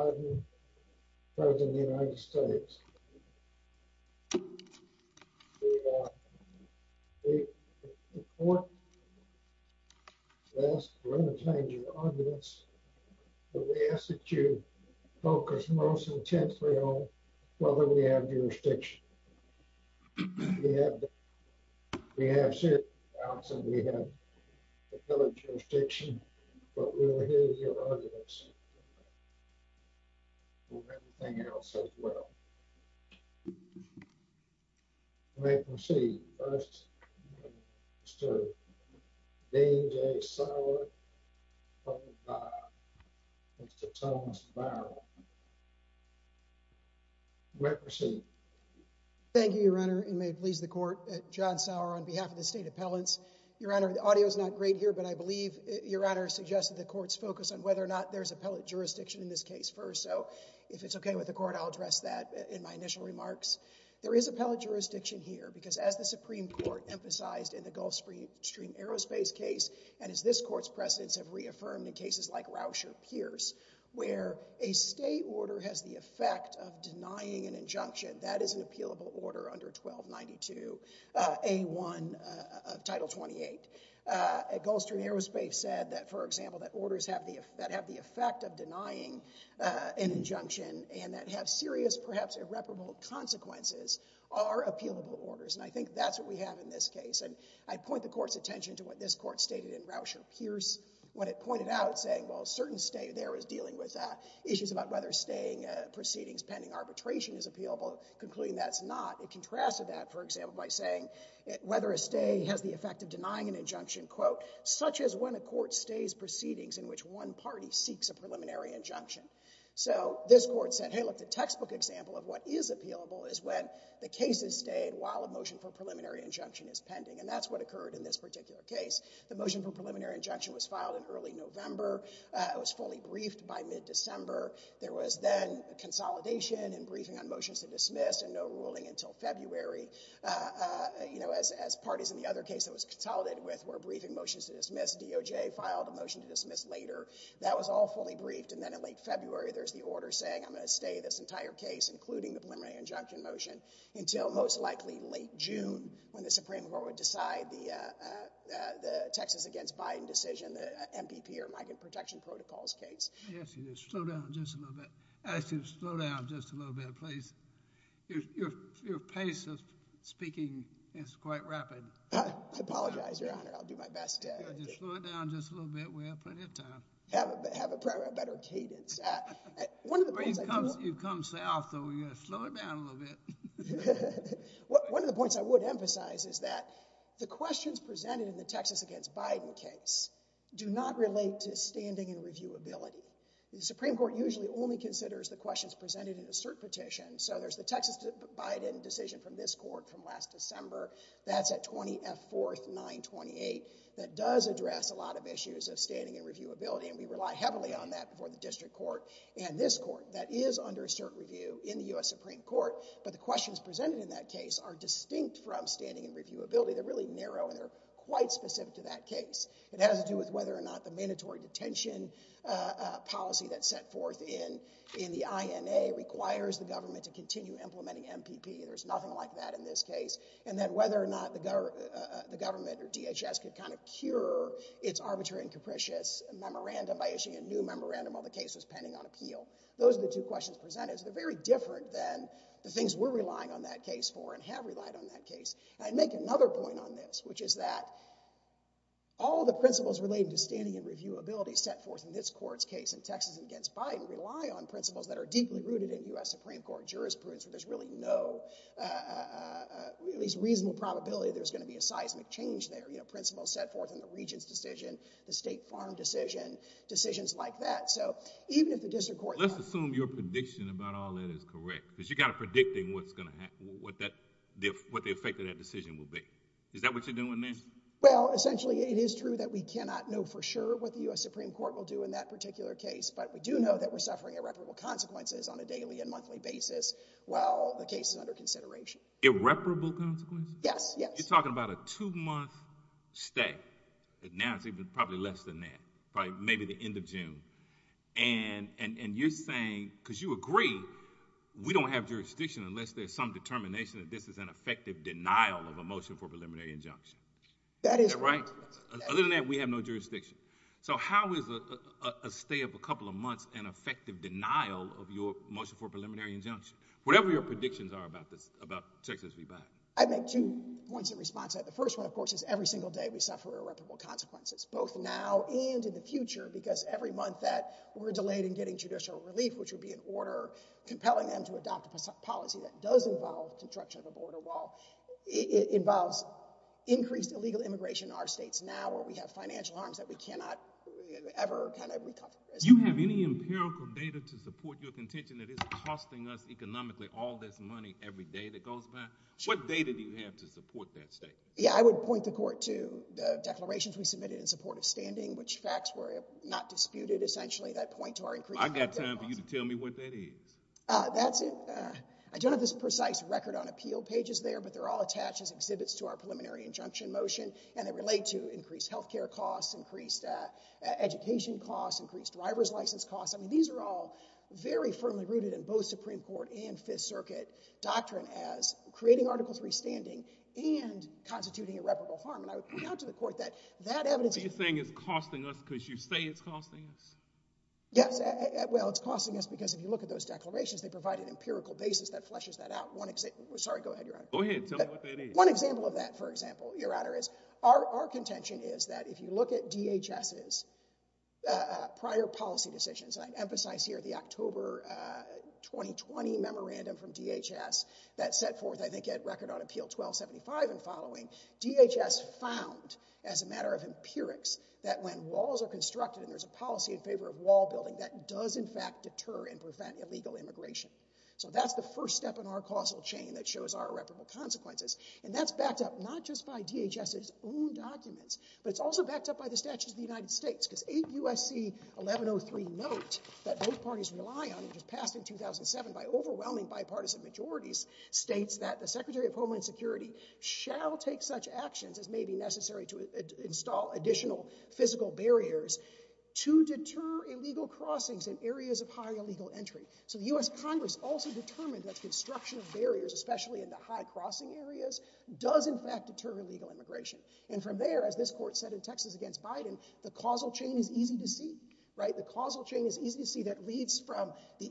in the United States. The court will ask for a change of audience. We ask that you focus most intensely on whether we have jurisdiction. We have certain doubts that we have a filled audience for everything else as well. You may proceed. First, Mr. D.J. Sauer, public file. Mr. Thomas Barrow. You may proceed. Thank you, Your Honor. You may please the court. John Sauer on behalf of the State Appellants. Your Honor, the audio is not great here, but I believe Your Honor suggested the court's focus on whether or not there's appellate jurisdiction in this case first. So if it's okay with the court, I'll address that in my initial remarks. There is appellate jurisdiction here because as the Supreme Court emphasized in the Gulf Stream Aerospace case, and as this court's precedents have reaffirmed in cases like Rauscher Pierce, where a state order has the effect of denying an injunction, that is an appealable under 1292A1 of Title 28. Gulf Stream Aerospace said that, for example, that orders that have the effect of denying an injunction and that have serious, perhaps irreparable, consequences are appealable orders. And I think that's what we have in this case. And I point the court's attention to what this court stated in Rauscher Pierce when it pointed out saying, well, certain state there is dealing with issues about whether staying proceedings pending arbitration is appealable, concluding that's not. It contrasted that, for example, by saying whether a stay has the effect of denying an injunction, quote, such as when a court stays proceedings in which one party seeks a preliminary injunction. So this court said, hey, look, the textbook example of what is appealable is when the case is stayed while a motion for preliminary injunction is pending. And that's what occurred in this particular case. The motion for preliminary injunction was filed in early November. It was fully briefed by mid-December. There was then consolidation and briefing on motions to dismiss and no ruling until February as parties in the other case that was consolidated with were briefing motions to dismiss. DOJ filed a motion to dismiss later. That was all fully briefed. And then in late February, there's the order saying I'm going to stay this entire case, including the preliminary injunction motion, until most likely late June when the Supreme Court would decide the Texas against Biden decision, the MPP, or Migrant Protection Protocols case. Yes, slow down just a little bit. Slow down just a little bit, please. Your pace of speaking is quite rapid. I apologize, Your Honor. I'll do my best. Just slow it down just a little bit. We have plenty of time. Have a better cadence. You've come south, so we're going to slow it down a little bit. One of the points I would emphasize is that the questions presented in the Texas against Biden case do not relate to standing and reviewability. The Supreme Court usually only considers the questions presented in a cert petition. So there's the Texas Biden decision from this court from last December. That's at 20-F-4-9-28. That does address a lot of issues of standing and reviewability, and we rely heavily on that before the district court and this court. That is under cert review in the U.S. Supreme Court, but the questions presented in that case are distinct from standing and reviewability. They're really narrow, and they're quite specific to that case. It has to do with whether or not the mandatory detention policy that's set forth in the INA requires the government to continue implementing MPP. There's nothing like that in this case. And then whether or not the government or DHS could kind of cure its arbitrary and capricious memorandum by issuing a new memorandum while the case was pending on appeal. Those are the two questions presented. They're very different than the things we're relying on that case for and have relied on that case. I'd make another point on this, which is that all the principles relating to standing and reviewability set forth in this court's case in Texas against Biden rely on principles that are deeply rooted in U.S. Supreme Court jurisprudence. There's really no, at least reasonable probability, there's going to be a seismic change there. You know, principles set forth in the regent's decision, the state farm decision, decisions like that. So even if the district court... Let's assume your prediction about all that is correct, because you've got to predict what's going to happen, what the effect of that decision will be. Is that what you're doing there? Well, essentially, it is true that we cannot know for sure what the U.S. Supreme Court will do in that particular case, but we do know that we're suffering irreparable consequences on a daily and monthly basis while the case is under consideration. Irreparable consequences? Yes, yes. You're talking about a two-month stay. Now it's probably less than that, probably maybe the end of June. And you're saying, because you agree, we don't have jurisdiction unless there's some determination that this is an effective denial of a motion for preliminary injunction. That is correct. Other than that, we have no jurisdiction. So how is a stay of a couple of months an effective denial of your motion for preliminary injunction? Whatever your predictions are about Texas v. Biden. I'd make two points in response. The first one, of course, is every single day we suffer irreparable consequences, both now and in the future, because every month that we're delayed in getting judicial relief, which would be an order compelling them to adopt a policy that does involve construction of a border wall. It involves increased illegal immigration in our states now where we have financial harms that we cannot ever kind of recover. Do you have any empirical data to support your contention that it's costing us economically all this money every day that goes by? What data do you have to support that state? Yeah, I would point the court to the declarations we submitted in support of standing, which facts were not disputed, essentially that point to our increased... I got time for you to tell me what that is. That's it. I don't have this precise record on appeal pages there, but they're all attached as exhibits to our preliminary injunction motion, and they relate to increased health care costs, increased education costs, increased driver's license costs. I mean, these are all very firmly rooted in both Supreme Court and Fifth Circuit doctrine as creating Article III standing and constituting irreparable harm, and I would point out to the court that that evidence... So you're saying it's costing us because you say it's costing us? Yes. Well, it's costing us because if you look at those declarations, they provide an empirical basis that fleshes that out. One example... Sorry, go ahead, Your Honor. Go ahead. Tell me what that is. One example of that, for example, Your Honor, is our contention is that if you look at DHS's prior policy decisions, and I emphasize here the October 2020 memorandum from DHS that set forth, I think, a record on Appeal 1275 and following, DHS found as a matter of empirics that when walls are constructed and there's a policy in favor of wall building, that does, in fact, deter and prevent illegal immigration. So that's the first step in our causal chain that shows our irreparable consequences, and that's backed up not just by DHS's own documents, but it's also backed up by the Statutes of the United States, because 8 U.S.C. 1103 note that both parties rely on, which was passed in 2007 by overwhelming bipartisan majorities, states that the Secretary of Homeland Security shall take such actions as may be necessary to install additional physical barriers to deter illegal crossings in areas of high illegal entry. So the U.S. Congress also determined that construction of barriers, especially in the high-crossing areas, does, in fact, deter illegal immigration. And from there, as this court said in Texas against Biden, the causal chain is the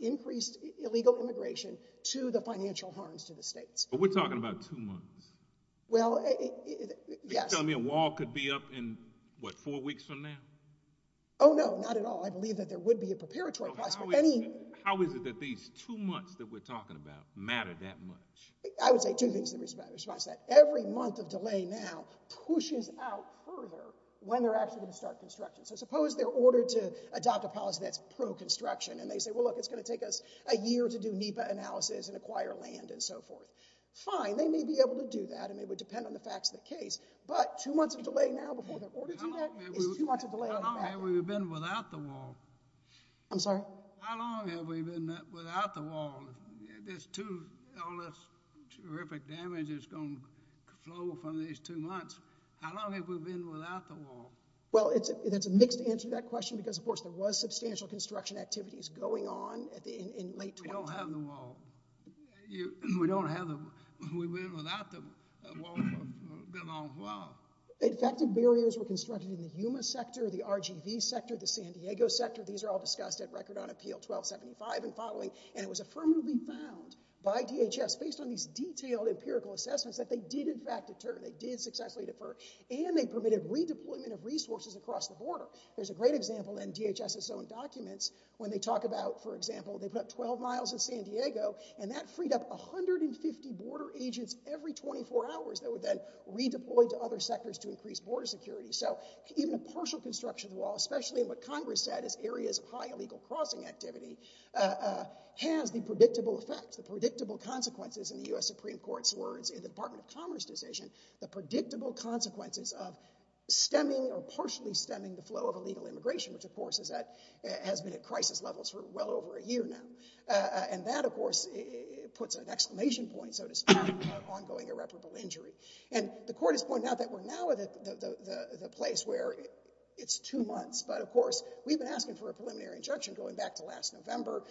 increased illegal immigration to the financial harms to the states. But we're talking about two months. Well, yes. You're telling me a wall could be up in, what, four weeks from now? Oh, no, not at all. I believe that there would be a preparatory process for any— How is it that these two months that we're talking about matter that much? I would say two things that matter. First, that every month of delay now pushes out further when they're actually going to start construction. So suppose they're ordered to adopt a policy that's pro-construction, and they say, well, look, it's going to take us a year to do NEPA analysis and acquire land and so forth. Fine, they may be able to do that, and it would depend on the facts of the case. But two months of delay now before they're ordered to do that is too much of a delay. How long have we been without the wall? I'm sorry? How long have we been without the wall? There's too—all this terrific damage is going to flow from these two months. How long have we been without the wall? Well, that's a mixed answer to that question, because, of course, there was substantial construction activities going on in late 2020. We don't have the wall. We don't have the—we've been without the wall for a good long while. In fact, the barriers were constructed in the Yuma sector, the RGV sector, the San Diego sector. These are all discussed at record on Appeal 1275 and following. And it was affirmatively found by DHS, based on these detailed empirical assessments, that they did, in fact, they did successfully defer, and they permitted redeployment of resources across the border. There's a great example in DHS's own documents when they talk about, for example, they put up 12 miles in San Diego, and that freed up 150 border agents every 24 hours that were then redeployed to other sectors to increase border security. So even a partial construction of the wall, especially in what Congress said is areas of high illegal crossing activity, has the predictable effect, the predictable consequences, in the U.S. the predictable consequences of stemming or partially stemming the flow of illegal immigration, which, of course, has been at crisis levels for well over a year now. And that, of course, puts an exclamation point, so to speak, on ongoing irreparable injury. And the court has pointed out that we're now at the place where it's two months. But, of course, we've been asking for a preliminary injunction going back to last November.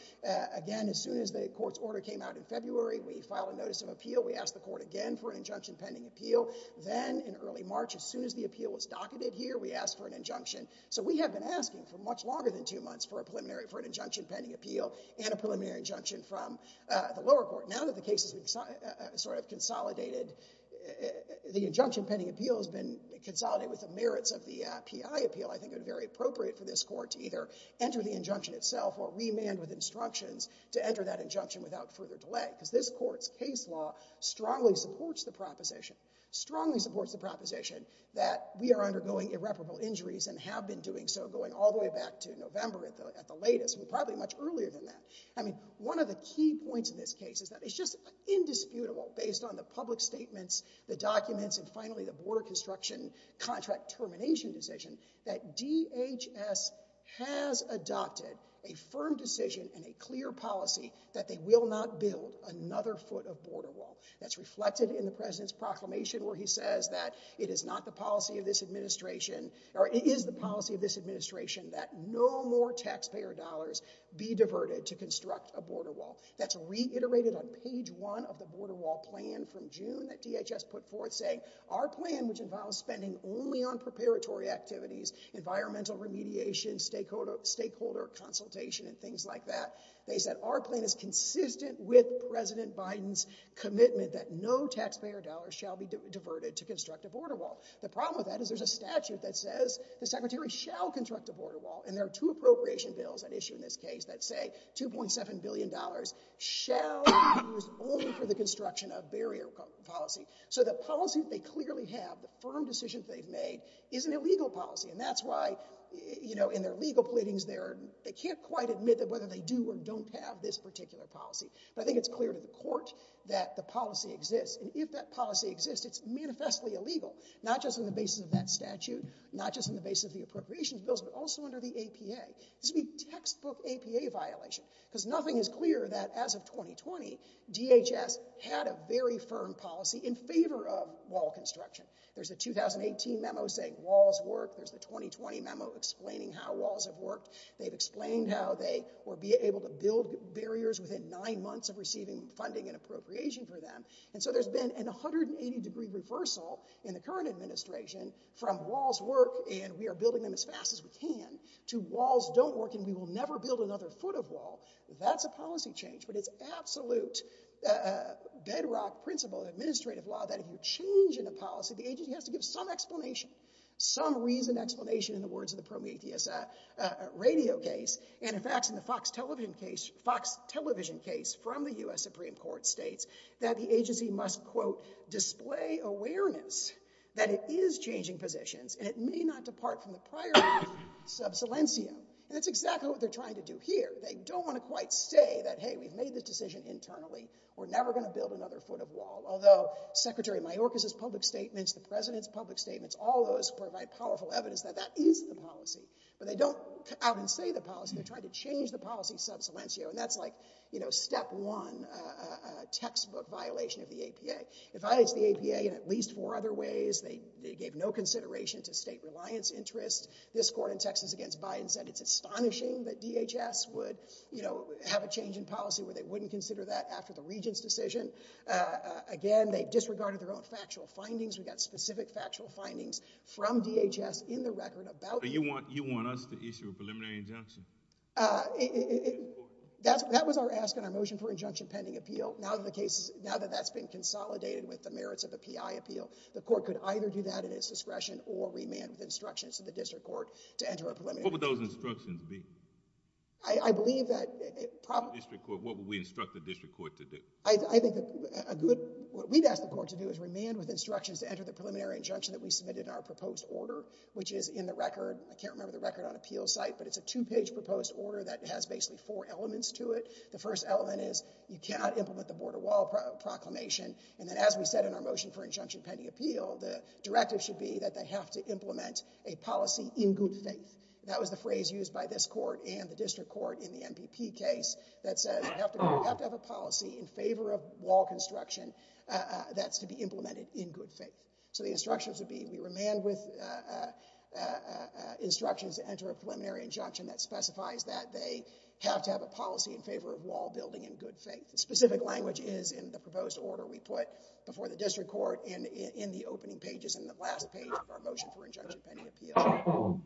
Again, as soon as the court's order came out in February, we filed a notice of appeal. We asked the court again for an injunction pending appeal. Then in early March, as soon as the appeal was docketed here, we asked for an injunction. So we have been asking for much longer than two months for a preliminary, for an injunction pending appeal and a preliminary injunction from the lower court. Now that the case has been sort of consolidated, the injunction pending appeal has been consolidated with the merits of the PI appeal, I think it would be very appropriate for this court to either enter the injunction itself or remand with instructions to enter that injunction without further delay, because this court's case law strongly supports the proposition, strongly supports the proposition that we are undergoing irreparable injuries and have been doing so going all the way back to November at the latest, and probably much earlier than that. I mean, one of the key points in this case is that it's just indisputable, based on the public statements, the documents, and finally the border construction contract termination decision, that DHS has adopted a firm decision and a clear policy that they will not build another foot of border wall. That's reflected in the president's proclamation where he says that it is not the policy of this administration, or it is the policy of this administration that no more taxpayer dollars be diverted to construct a border wall. That's reiterated on page one of the border wall plan from June that DHS put forth saying, our plan, which involves spending only on preparatory activities, environmental remediation, stakeholder consultation, and things like that, they said our plan is consistent with President Biden's commitment that no taxpayer dollars shall be diverted to construct a border wall. The problem with that is there's a statute that says the secretary shall construct a border wall, and there are two appropriation bills at issue in this case that say $2.7 billion shall be used only for the construction of barrier policy. So the policy that they clearly have, the firm decisions they've made, is an illegal policy, and that's why, you know, in their legal pleadings there, they can't quite admit that whether they do or don't have this particular policy. But I think it's clear to the court that the policy exists. And if that policy exists, it's manifestly illegal, not just on the basis of that statute, not just on the basis of the appropriations bills, but also under the APA. This would be textbook APA violation because nothing is clear that as of 2020, DHS had a very firm policy in favor of wall construction. There's a 2018 memo saying walls work. There's the 2020 memo explaining how walls have worked. They've explained how they will be able to build barriers within nine months of receiving funding and appropriation for them. And so there's been an 180-degree reversal in the current administration from walls work and we are building them as fast as we can to walls don't work and we will never build another foot of wall. That's a policy change, but it's absolute bedrock principle in administrative law that if you change in a policy, the agency has to give some explanation, some reason explanation in the words of the Prometheus radio case. And in fact, in the Fox television case from the U.S. Supreme Court states that the agency must, quote, display awareness that it is changing positions and it may not depart from the prior subsilentia. And that's exactly what they're trying to do here. They don't want to quite say that, hey, we've made the decision internally. We're never going to build another foot of wall. Although Secretary Mayorkas' public statements, the president's public statements, all those provide powerful evidence that that is the policy. But they don't come out and say the policy. They're trying to change the policy subsilentia. And that's like, you know, step one, a textbook violation of the APA. It violates the APA in at least four other ways. They gave no consideration to state reliance interests. This court in Texas against Biden said it's astonishing that DHS would, you know, have a change in policy where they wouldn't consider that after the regent's decision. Again, they disregarded their own factual findings. We got specific factual findings from DHS in the record about it. But you want us to issue a preliminary injunction? That was our ask and our motion for injunction pending appeal. Now that that's been consolidated with the merits of the PI appeal, the court could either do that at its discretion or remand with instructions to the district court to enter a preliminary. What would those instructions be? I believe that it probably. The district court, what would we instruct the district court to do? I think a good, what we'd ask the court to do is remand with instructions to enter the preliminary injunction that we submitted in our proposed order, which is in the record. I can't remember the record on appeal site, but it's a two-page proposed order that has basically four elements to it. The first element is you cannot implement the border wall proclamation. And then as we said in our motion for injunction pending appeal, the directive should be that they have to implement a policy in good faith. That was the phrase used by this court and the district court in the MPP case that says you have to have a policy in favor of wall construction that's to be implemented in good faith. So the instructions would be we remand with instructions to enter a preliminary injunction that specifies that they have to have a policy in favor of wall building in good faith. The specific language is in the proposed order we put before the district court and in the opening pages in the last page of our motion for injunction pending appeal.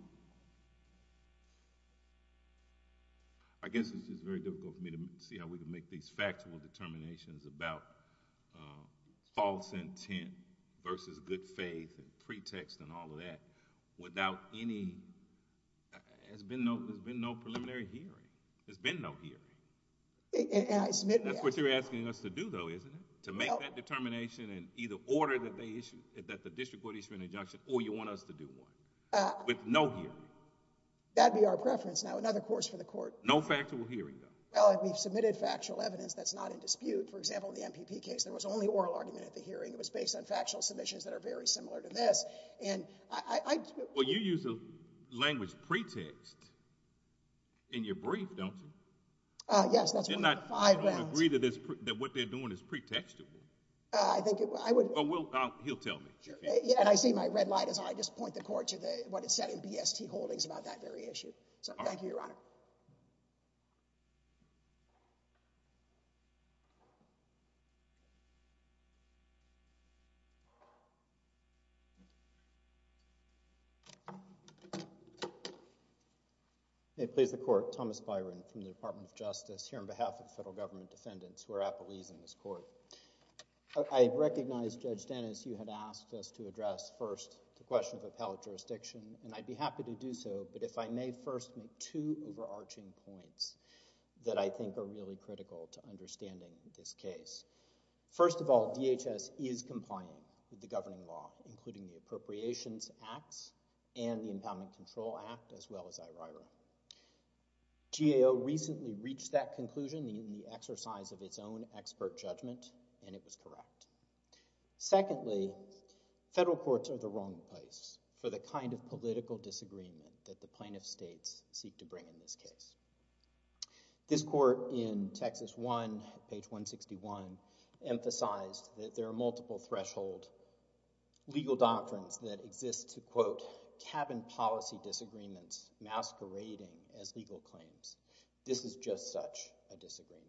I guess this is very difficult for me to see how we can make these factual determinations about false intent versus good faith and pretext and all of that without any... There's been no preliminary hearing. There's been no hearing. And I submit... That's what you're asking us to do though, isn't it? To make that determination in either order that they issued, that the district court issued an injunction, or you want us to do one with no hearing. That'd be our preference. Now, another course for the court... No factual hearing though. Well, if we've submitted factual evidence that's not in dispute, for example, in the MPP case, there was only oral argument at the hearing. It was based on factual submissions that are very similar to this. And I... Well, you use the language pretext in your brief, don't you? Uh, yes. You're not going to agree that what they're doing is pretextable? Uh, I think it... I would... Well, he'll tell me. And I see my red light as I just point the court to the, what it said in BST Holdings about that very issue. So, thank you, Your Honor. May it please the Court. Thomas Byron from the Department of Justice, here on behalf of the Federal Government Defendants. We're appellees in this court. I recognize, Judge Dennis, you had asked us to address first the question of appellate jurisdiction. And I'd be happy to do so, but if I may first make two overarching points that I think are really critical to understanding this case. First of all, DHS is compliant with the governing law, including the Appropriations Acts and the Impoundment Control Act, as well as IRO. GAO recently reached that conclusion in the exercise of its own expert judgment, and it was correct. Secondly, federal courts are the wrong place for the kind of political disagreement that the plaintiff states seek to bring in this case. This court in Texas 1, page 161, emphasized that there are multiple threshold legal doctrines that exist to, quote, cabin policy disagreements masquerading as legal claims. This is just such a disagreement.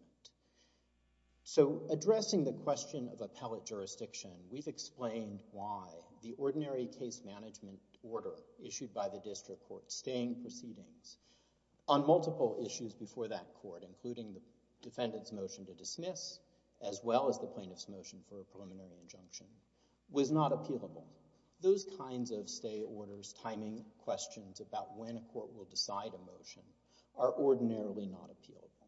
So, addressing the question of appellate jurisdiction, we've explained why the ordinary case management order issued by the district court, staying proceedings, on multiple issues before that court, including the defendant's motion to dismiss, as well as the plaintiff's motion for a preliminary injunction, was not appealable. Those kinds of stay orders, timing questions about when a court will decide a motion, are ordinarily not appealable.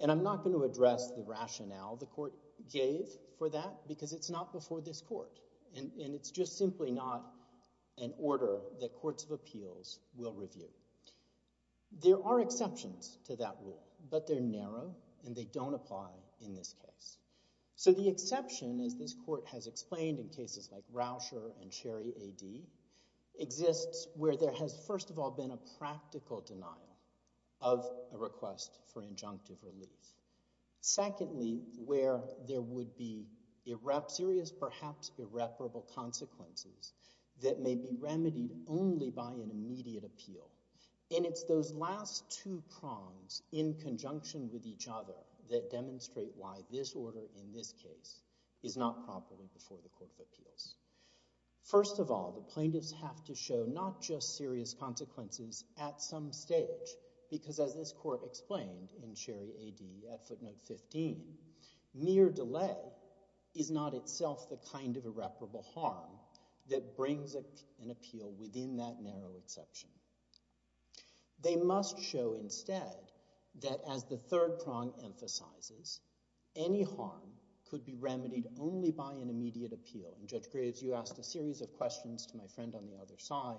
And I'm not going to address the rationale the court gave for that, because it's not before this court. And it's just simply not an order that courts of appeals will review. There are exceptions to that rule, but they're narrow, and they don't apply in this case. So, the exception, as this court has explained in cases like Rauscher and Cherry AD, exists where there has, first of all, been a practical denial of a request for injunctive relief. Secondly, where there would be serious, perhaps irreparable consequences that may be remedied only by an immediate appeal. And it's those last two prongs, in conjunction with each other, that demonstrate why this order in this case is not properly before the court of appeals. First of all, the plaintiffs have to show not just serious consequences at some stage, because as this court explained in Cherry AD at footnote 15, mere delay is not itself the kind of irreparable harm that brings an appeal within that narrow exception. They must show instead that, as the third prong emphasizes, any harm could be remedied only by an immediate appeal. And Judge Graves, you asked a series of questions to my friend on the other side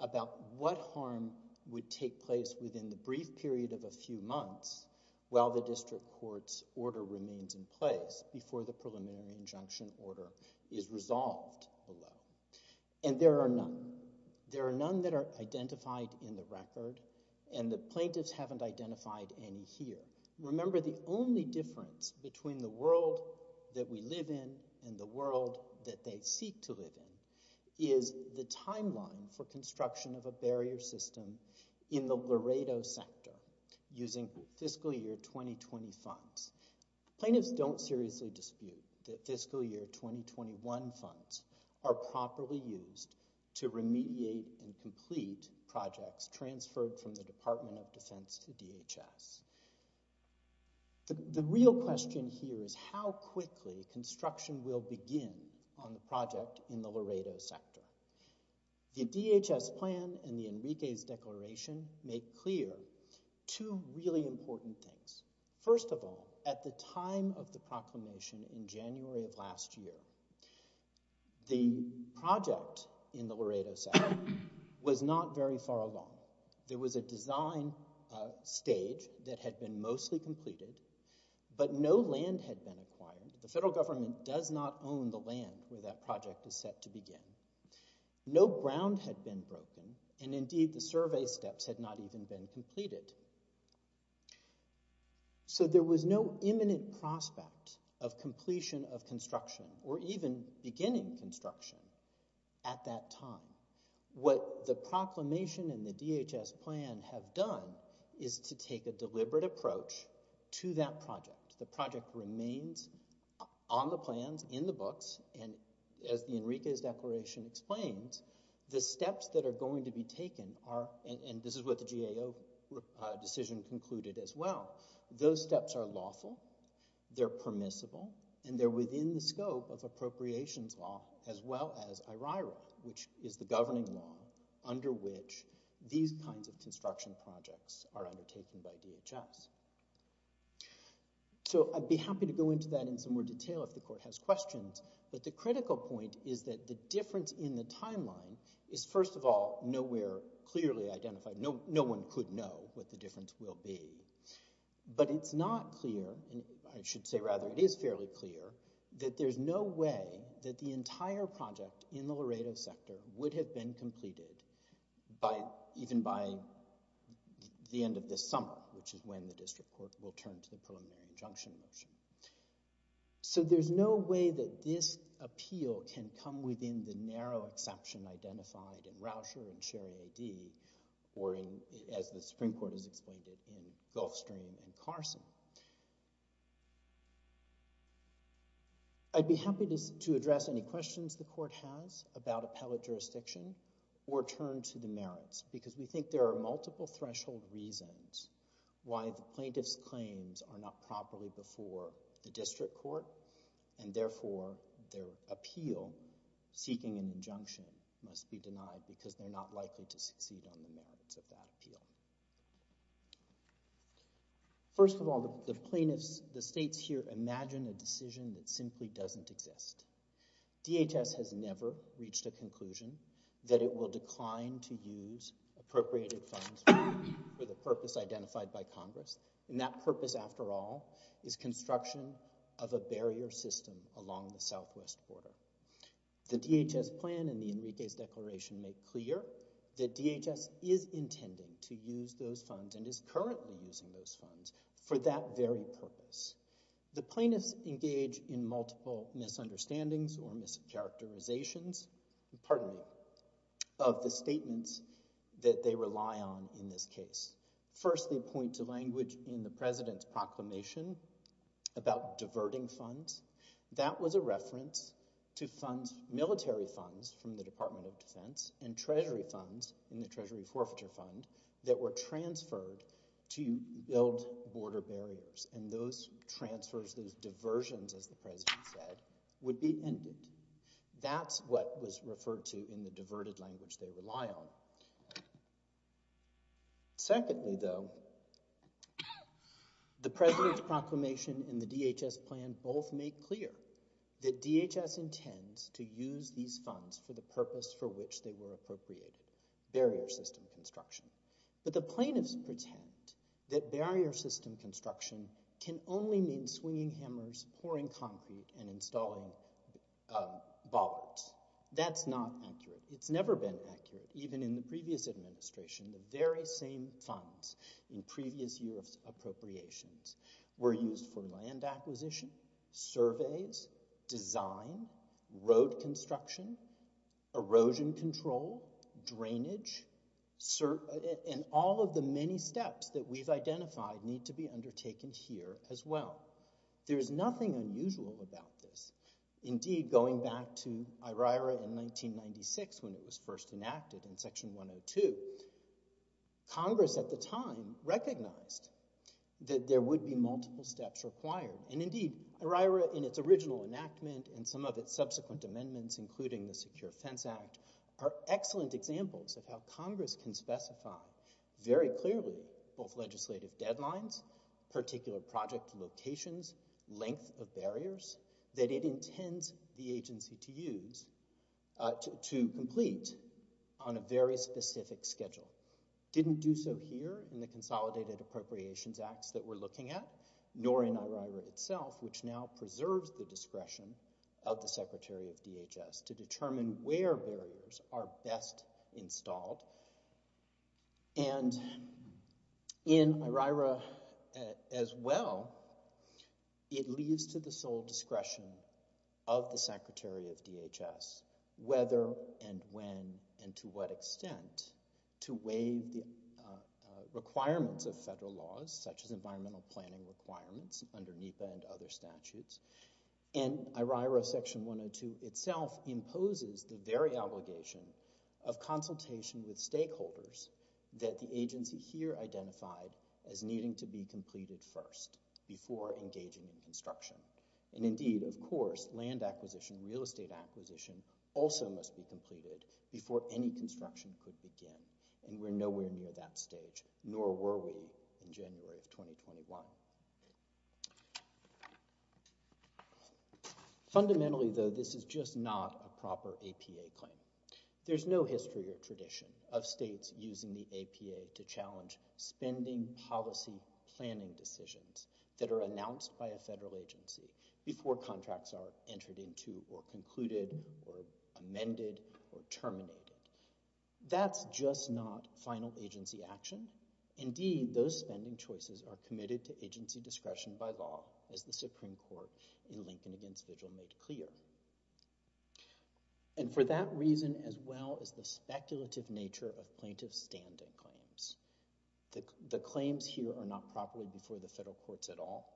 about what harm would take place within the brief period of a few months while the district court's order remains in place, before the preliminary injunction order is resolved below. And there are none. There are none that are identified in the record, and the plaintiffs haven't identified any here. Remember, the only difference between the world that we live in and the world that they seek to live in is the timeline for construction of a barrier system in the Laredo sector using fiscal year 2020 funds. Plaintiffs don't seriously dispute that fiscal year 2021 funds are properly used to remediate and complete projects transferred from the Department of Defense to DHS. The real question here is how quickly construction will begin on the project in the Laredo sector. The DHS plan and the Enriquez Declaration make clear two really important things. First of all, at the time of the proclamation in January of last year, the project in the Laredo sector was not very far along. There was a design stage that had been mostly completed, but no land had been acquired. The federal government does not own the land where that project is set to begin. No ground had been broken, and indeed the survey steps had not even been completed. So there was no imminent prospect of completion of construction or even beginning construction at that time. What the proclamation and the DHS plan have done is to take a deliberate approach to that project. The project remains on the plans, in the books, and as the Enriquez Declaration explains, the steps that are going to be taken are, and this is what the GAO decision concluded as well, those steps are lawful, they're permissible, and they're within the scope of appropriations law as well as IRIRA, which is the governing law under which these kinds of construction projects are undertaken by DHS. So I'd be happy to go into that in some more detail if the court has questions, but the critical point is that the difference in the timeline is, first of all, nowhere clearly identified. No one could know what the difference will be. But it's not clear, I should say rather, it is fairly clear that there's no way that the entire project in the Laredo sector would have been completed even by the end of this summer, which is when the district court will turn to the preliminary injunction motion. So there's no way that this appeal can come within the narrow exception identified in Rauscher and Sherry AD or in, as the Supreme Court has explained it, Gulfstream and Carson. I'd be happy to address any questions the court has about appellate jurisdiction or turn to the merits because we think there are multiple threshold reasons why the plaintiff's claims are not properly before the district court and therefore their appeal seeking an injunction must be denied because they're not likely to succeed on the merits of that appeal. First of all, the plaintiffs, the states here, imagine a decision that simply doesn't exist. DHS has never reached a conclusion that it will decline to use appropriated funds for the purpose identified by Congress. And that purpose, after all, is construction of a barrier system along the southwest border. The DHS plan and the Enriquez Declaration make clear that DHS is intended to use those funds and is currently using those funds for that very purpose. The plaintiffs engage in multiple misunderstandings or mischaracterizations, pardon me, of the statements that they rely on in this case. First, they point to language in the president's proclamation about diverting funds. That was a reference to funds, military funds from the Department of Defense and treasury funds in the Treasury Forfeiture Fund that were transferred to build border barriers. And those transfers, those diversions, as the president said, would be ended. That's what was referred to in the diverted language they rely on. Secondly, though, the president's proclamation and the DHS plan both make clear that DHS intends to use these funds for the purpose for which they were appropriated, barrier system construction. But the plaintiffs pretend that barrier system construction can only mean swinging hammers, pouring concrete, and installing bollards. That's not accurate. It's never been accurate. Even in the previous administration, the very same funds in previous UF's appropriations were used for land acquisition, surveys, design, road construction, erosion control, drainage, and all of the many steps that we've identified need to be undertaken here as well. There is nothing unusual about this. Indeed, going back to IRIRA in 1996 when it was first enacted in Section 102, Congress at the time recognized that there would be multiple steps required. And indeed, IRIRA in its original enactment and some of its subsequent amendments, including the Secure Fence Act, are excellent examples of how Congress can specify very clearly both legislative deadlines, particular project locations, length of barriers that it intends the agency to use to complete on a very specific schedule. Didn't do so here in the Consolidated Appropriations Acts that we're looking at, nor in IRIRA itself, which now preserves the discretion of the Secretary of DHS to determine where barriers are best installed. And in IRIRA as well, it leaves to the sole discretion of the Secretary of DHS whether and when and to what extent to waive the requirements of federal laws such as environmental planning requirements under NEPA and other statutes. And IRIRA Section 102 itself imposes the very obligation of consultation with stakeholders that the agency here identified as needing to be completed first before engaging in construction. And indeed, of course, land acquisition, real estate acquisition also must be completed before any construction could begin. And we're nowhere near that stage, nor were we in January of 2021. Fundamentally, though, this is just not a proper APA claim. There's no history or tradition of states using the APA to challenge spending policy planning decisions that are announced by a federal agency before contracts are entered into or concluded or amended or terminated. That's just not final agency action. Indeed, those spending choices are committed to agency discretion by law, as the Supreme Court in Lincoln against Vigil made clear. And for that reason, as well as the speculative nature of plaintiff's standing claims, the claims here are not properly before the federal courts at all.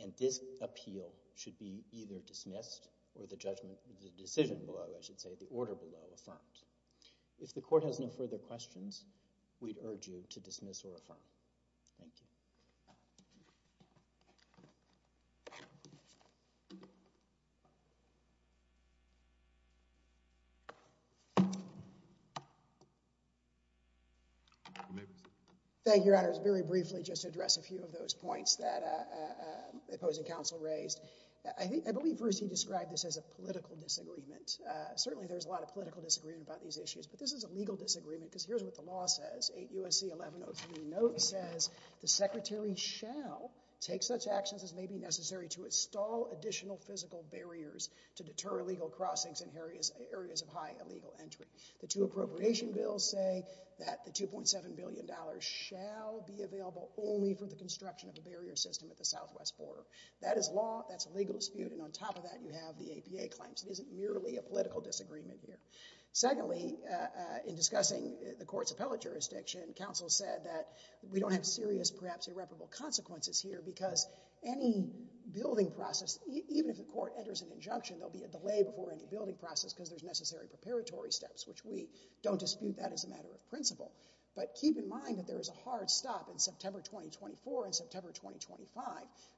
And this appeal should be either dismissed or the decision below, I should say, the order below, affirmed. If the court has no further questions, we'd urge you to dismiss or affirm. Thank you. Thank you, Your Honors. Very briefly, just to address a few of those points that opposing counsel raised. I believe Bruce, he described this as a political disagreement. Certainly, there's a lot of political disagreement about these issues, but this is a legal disagreement because here's what the law says. 8 U.S.C. 1103 note says, the secretary shall take such actions as may be necessary to install additional physical barriers to deter illegal crossings in areas of high illegal entry. The two appropriation bills say that the $2.7 billion shall be available only for the construction of a barrier system at the southwest border. That is law. That's a legal dispute. And on top of that, you have the APA claims. It isn't merely a political disagreement here. Secondly, in discussing the court's appellate jurisdiction, counsel said that we don't have serious, perhaps irreparable consequences here because any building process, even if the court enters an injunction, there'll be a delay before any building process because there's necessary preparatory steps, which we don't dispute that as a matter of principle. But keep in mind that there is a hard stop in September 2024 and September 2025.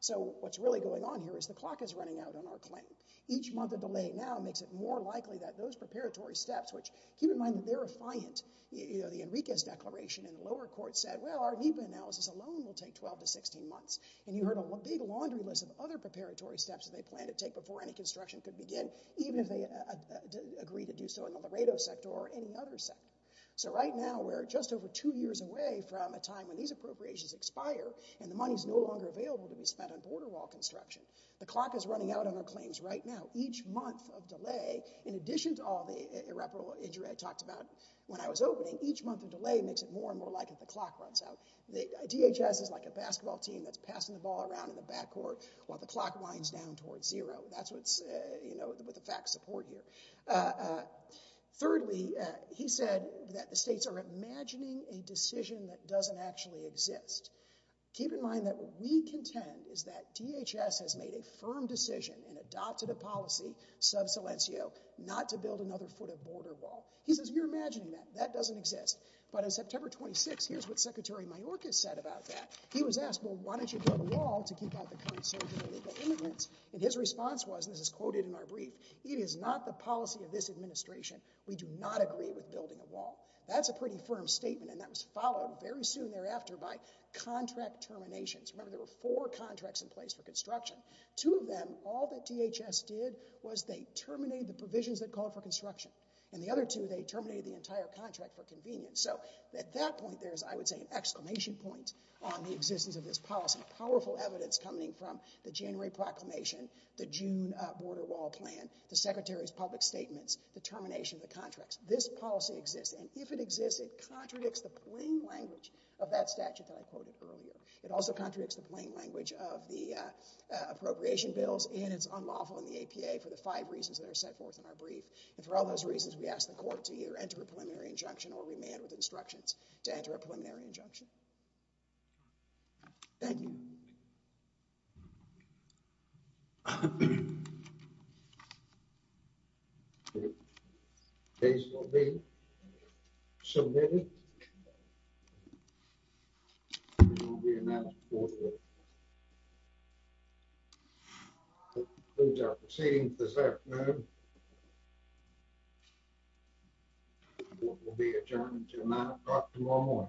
So what's really going on here is the clock is running out on our claim. Each month of delay now makes it more likely that those preparatory steps, which keep in mind that they're affiant. You know, the Enriquez Declaration in the lower court said, well, our NEPA analysis alone will take 12 to 16 months. And you heard a big laundry list of other preparatory steps that they plan to take before any construction could begin, even if they agree to do so in the Laredo sector or any other sector. So right now, we're just over two years away from a time when these appropriations expire and the money's no longer available to be spent on border wall construction. The clock is running out on our claims right now. Each month of delay, in addition to all the irreparable injury I talked about when I was opening, each month of delay makes it more and more likely that the clock runs out. The DHS is like a basketball team that's passing the ball around in the backcourt while the clock winds down towards zero. That's what's, you know, with the fact support here. Thirdly, he said that the states are imagining a decision that doesn't actually exist. Keep in mind that what we contend is that DHS has made a firm decision and adopted a policy, sub silencio, not to build another foot of border wall. He says, you're imagining that. That doesn't exist. But on September 26th, here's what Secretary Mayorkas said about that. He was asked, well, why don't you build a wall to keep out the current surge in illegal immigrants? And his response was, and this is quoted in our brief, it is not the policy of this administration. We do not agree with building a wall. That's a pretty firm statement, and that was followed very soon thereafter by contract terminations. Remember, there were four contracts in place for construction. Two of them, all that DHS did was they terminated the provisions that called for construction. And the other two, they terminated the entire contract for convenience. So at that point, there's, I would say, an exclamation point on the existence of this policy. Powerful evidence coming from the January proclamation, the June border wall plan, the Secretary's public statements, the termination of the contracts. This policy exists, and if it exists, it contradicts the plain language of that statute that I quoted earlier. It also contradicts the plain language of the appropriation bills, and it's unlawful in the APA for the five reasons that are set forth in our brief. And for all those reasons, we ask the court to either enter a preliminary injunction or remand with instructions to enter a preliminary injunction. Thank you. One more.